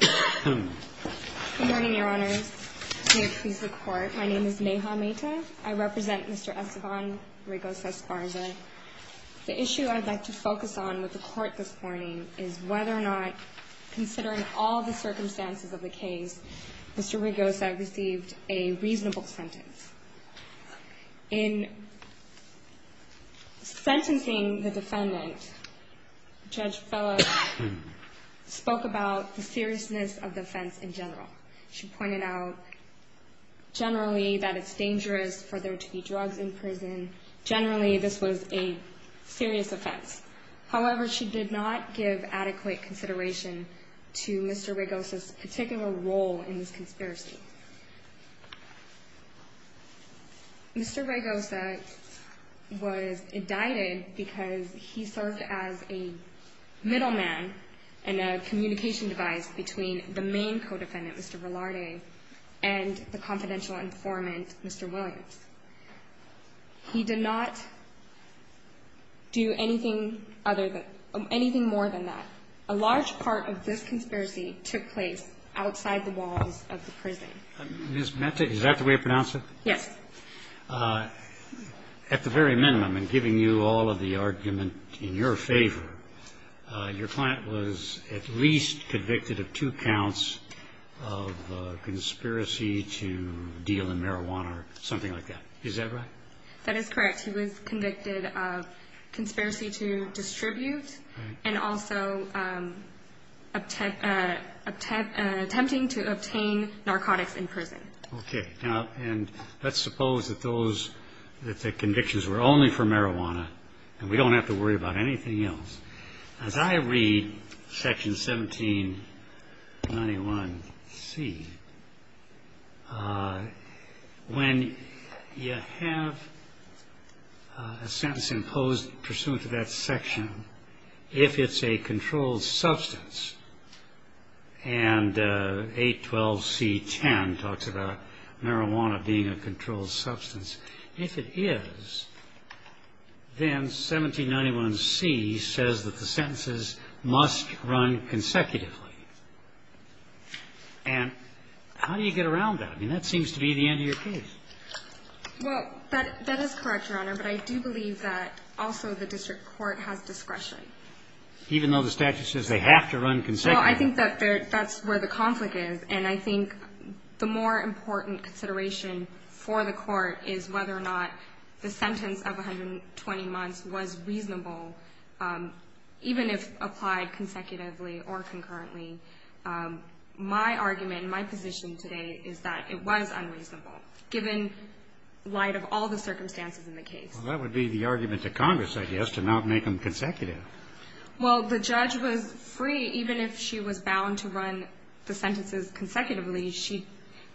Good morning, Your Honors. May it please the Court, my name is Neha Mehta. I represent Mr. Esteban Raygosa-Esparza. The issue I'd like to focus on with the Court this morning is whether or not, considering all the circumstances of the case, Mr. Raygosa received a reasonable sentence. In sentencing the defendant, Judge Fellow spoke about the seriousness of the offense in general. She pointed out generally that it's dangerous for there to be drugs in prison. Generally, this was a serious offense. However, she did not give adequate consideration to Mr. Raygosa's particular role in this conspiracy. Mr. Raygosa was indicted because he served as a middleman and a communication device between the main co-defendant, Mr. Velarde, and the confidential informant, Mr. Williams. He did not do anything more than that. A large part of this conspiracy took place outside the walls of the prison. Ms. Mehta, is that the way to pronounce it? Yes. At the very minimum, in giving you all of the argument in your favor, your client was at least convicted of two counts of conspiracy to deal in marijuana or something like that. Is that right? That is correct. He was convicted of conspiracy to distribute and also attempting to obtain narcotics in prison. Let's suppose that the convictions were only for marijuana and we don't have to worry about anything else. As I read section 1791C, when you have a sentence imposed pursuant to that section, if it's a controlled substance, and 812C10 talks about marijuana being a controlled substance, if it is, then 1791C says that the sentences must run consecutively. And how do you get around that? I mean, that seems to be the end of your case. Well, that is correct, Your Honor, but I do believe that also the district court has discretion. Even though the statute says they have to run consecutively? Well, I think that's where the conflict is. And I think the more important consideration for the Court is whether or not the sentence of 120 months was reasonable, even if applied consecutively or concurrently. My argument and my position today is that it was unreasonable, given light of all the circumstances in the case. Well, that would be the argument to Congress, I guess, to not make them consecutive. Well, the judge was free, even if she was bound to run the sentences consecutively. She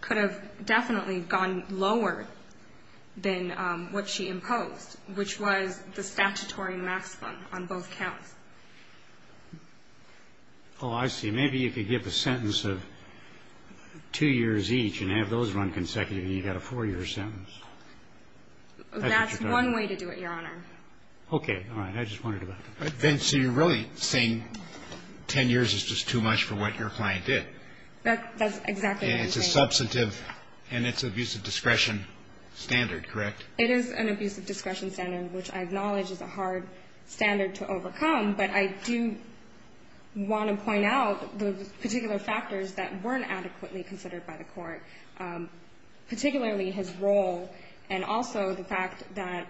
could have definitely gone lower than what she imposed, which was the statutory maximum on both counts. Oh, I see. Maybe you could give a sentence of two years each and have those run consecutively, and you got a four-year sentence. That's one way to do it, Your Honor. Okay. All right. I just wondered about that. So you're really saying 10 years is just too much for what your client did? That's exactly what I'm saying. It's a substantive and it's an abuse of discretion standard, correct? It is an abuse of discretion standard, which I acknowledge is a hard standard to overcome, but I do want to point out the particular factors that weren't adequately considered by the Court, particularly his role and also the fact that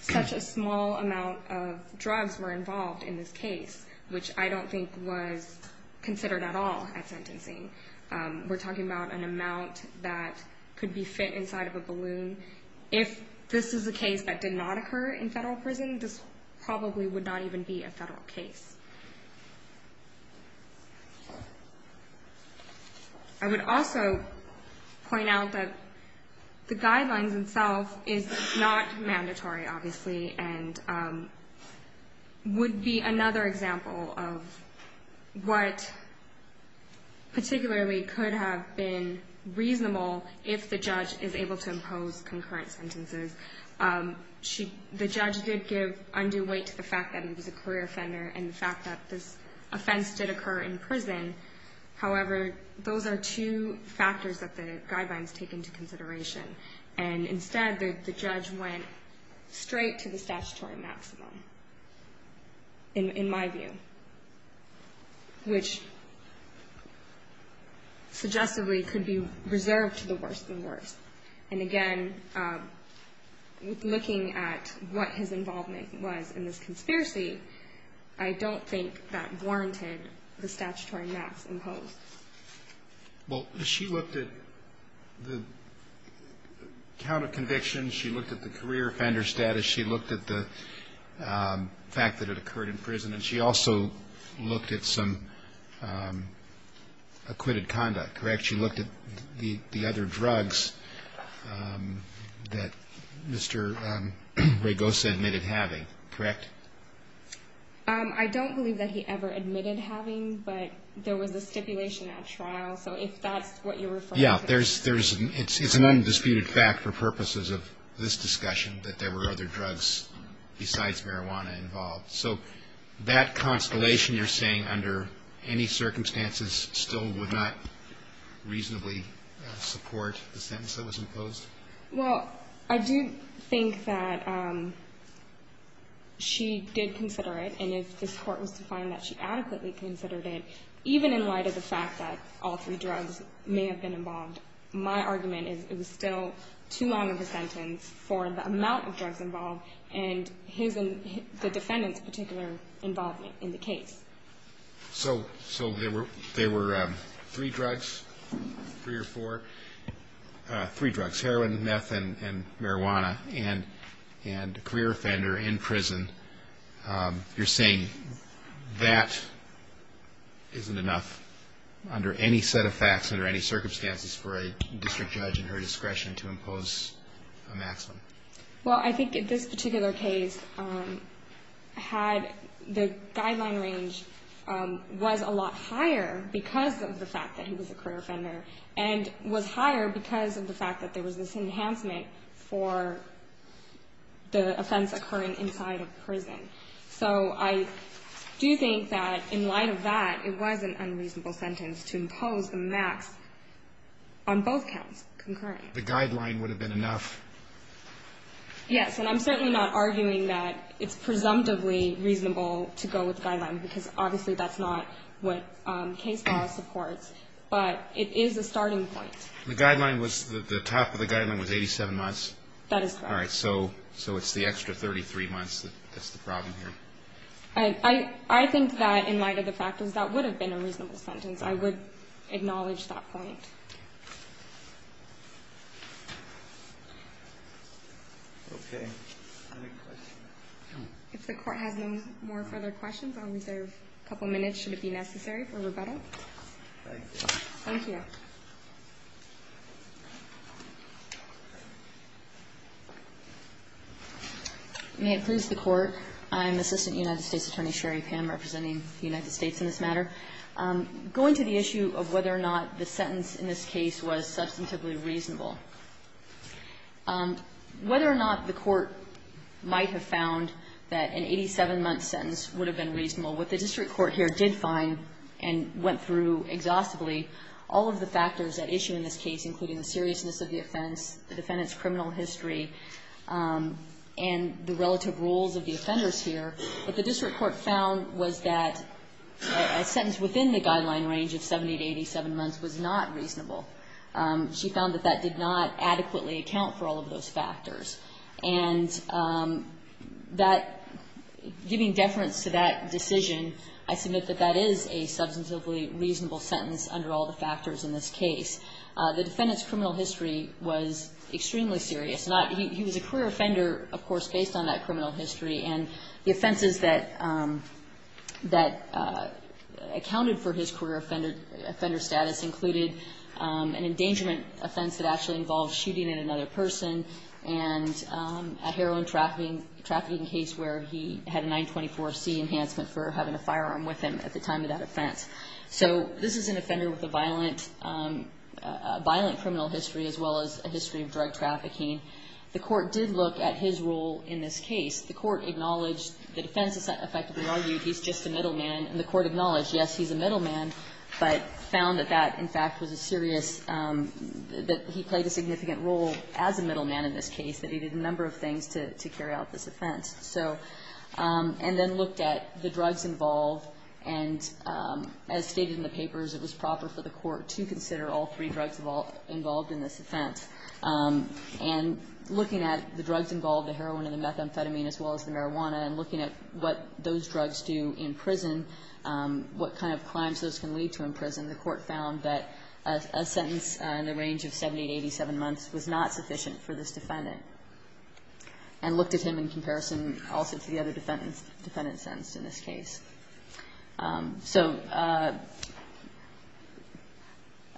such a small amount of drugs were involved in this case, which I don't think was considered at all at sentencing. We're talking about an amount that could be fit inside of a balloon. If this is a case that did not occur in federal prison, this probably would not even be a federal case. I would also point out that the guidelines themselves is not mandatory, obviously, and would be another example of what particularly could have been reasonable if the judge is able to impose concurrent sentences. The judge did give undue weight to the fact that it was a career offender and the fact that this offense did occur in prison. However, those are two factors that the guidelines take into consideration, and instead the judge went straight to the statutory maximum, in my view, which suggestively could be reserved to the worst of the worst. And again, looking at what his involvement was in this conspiracy, I don't think that warranted the statutory max imposed. Well, she looked at the count of convictions, she looked at the career offender status, she looked at the fact that it occurred in prison, and she also looked at some acquitted conduct, correct? She looked at the other drugs that Mr. Ragosa admitted having, correct? I don't believe that he ever admitted having, but there was a stipulation at trial, so if that's what you're referring to. Yeah, it's an undisputed fact for purposes of this discussion that there were other drugs besides marijuana involved. So that constellation you're saying under any circumstances still would not reasonably support the sentence that was imposed? Well, I do think that she did consider it, and if this Court was to find that she adequately considered it, even in light of the fact that all three drugs may have been involved, my argument is it was still too long of a sentence for the amount of drugs involved and the defendant's particular involvement in the case. So there were three drugs, three or four? Three drugs, heroin, meth, and marijuana, and a career offender in prison. You're saying that isn't enough under any set of facts, under any circumstances for a district judge in her discretion to impose a maximum? Well, I think this particular case had the guideline range was a lot higher because of the fact that he was a career offender and was higher because of the fact that there was this enhancement for the offense occurring inside of prison. So I do think that in light of that, it was an unreasonable sentence to impose the max on both counts concurrently. The guideline would have been enough? Yes, and I'm certainly not arguing that it's presumptively reasonable to go with the guideline because obviously that's not what case law supports, but it is a starting point. The guideline was the top of the guideline was 87 months? That is correct. All right. So it's the extra 33 months that's the problem here. I think that in light of the fact that that would have been a reasonable sentence, I would acknowledge that point. Okay. Any questions? If the Court has no more further questions, I'll reserve a couple minutes should it be necessary for rebuttal. Thank you. Thank you. May it please the Court. I am Assistant United States Attorney Sherry Pim representing the United States in this matter. Going to the issue of whether or not the sentence in this case was substantively reasonable, whether or not the Court might have found that an 87-month sentence would have been reasonable, what the district court here did find and went through exhaustively, all of the factors at issue in this case, including the seriousness of the offense, the defendant's criminal history, and the relative rules of the offenders here, what the district court found was that a sentence within the guideline range of 70 to 87 months was not reasonable. She found that that did not adequately account for all of those factors. And that, giving deference to that decision, I submit that that is a substantively reasonable sentence under all the factors in this case. The defendant's criminal history was extremely serious. He was a career offender, of course, based on that criminal history. And the offenses that accounted for his career offender status included an endangerment offense that actually involved shooting at another person and a heroin trafficking case where he had a 924C enhancement for having a firearm with him at the time of that offense. So this is an offender with a violent criminal history as well as a history of drug trafficking. The Court did look at his role in this case. The Court acknowledged the defense effectively argued he's just a middleman. And the Court acknowledged, yes, he's a middleman, but found that that, in fact, was a serious – that he played a significant role as a middleman in this case, that he did a number of things to carry out this offense. So – and then looked at the drugs involved. And as stated in the papers, it was proper for the Court to consider all three drugs involved in this offense. And looking at the drugs involved, the heroin and the methamphetamine, as well as the marijuana, and looking at what those drugs do in prison, what kind of crimes those can lead to in prison, the Court found that a sentence in the range of 70 to 87 months was not sufficient for this defendant, and looked at him in comparison also to the other defendant sentenced in this case. So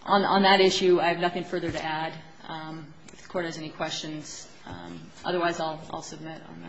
on that issue, I have nothing further to add. If the Court has any questions. Otherwise, I'll submit on that.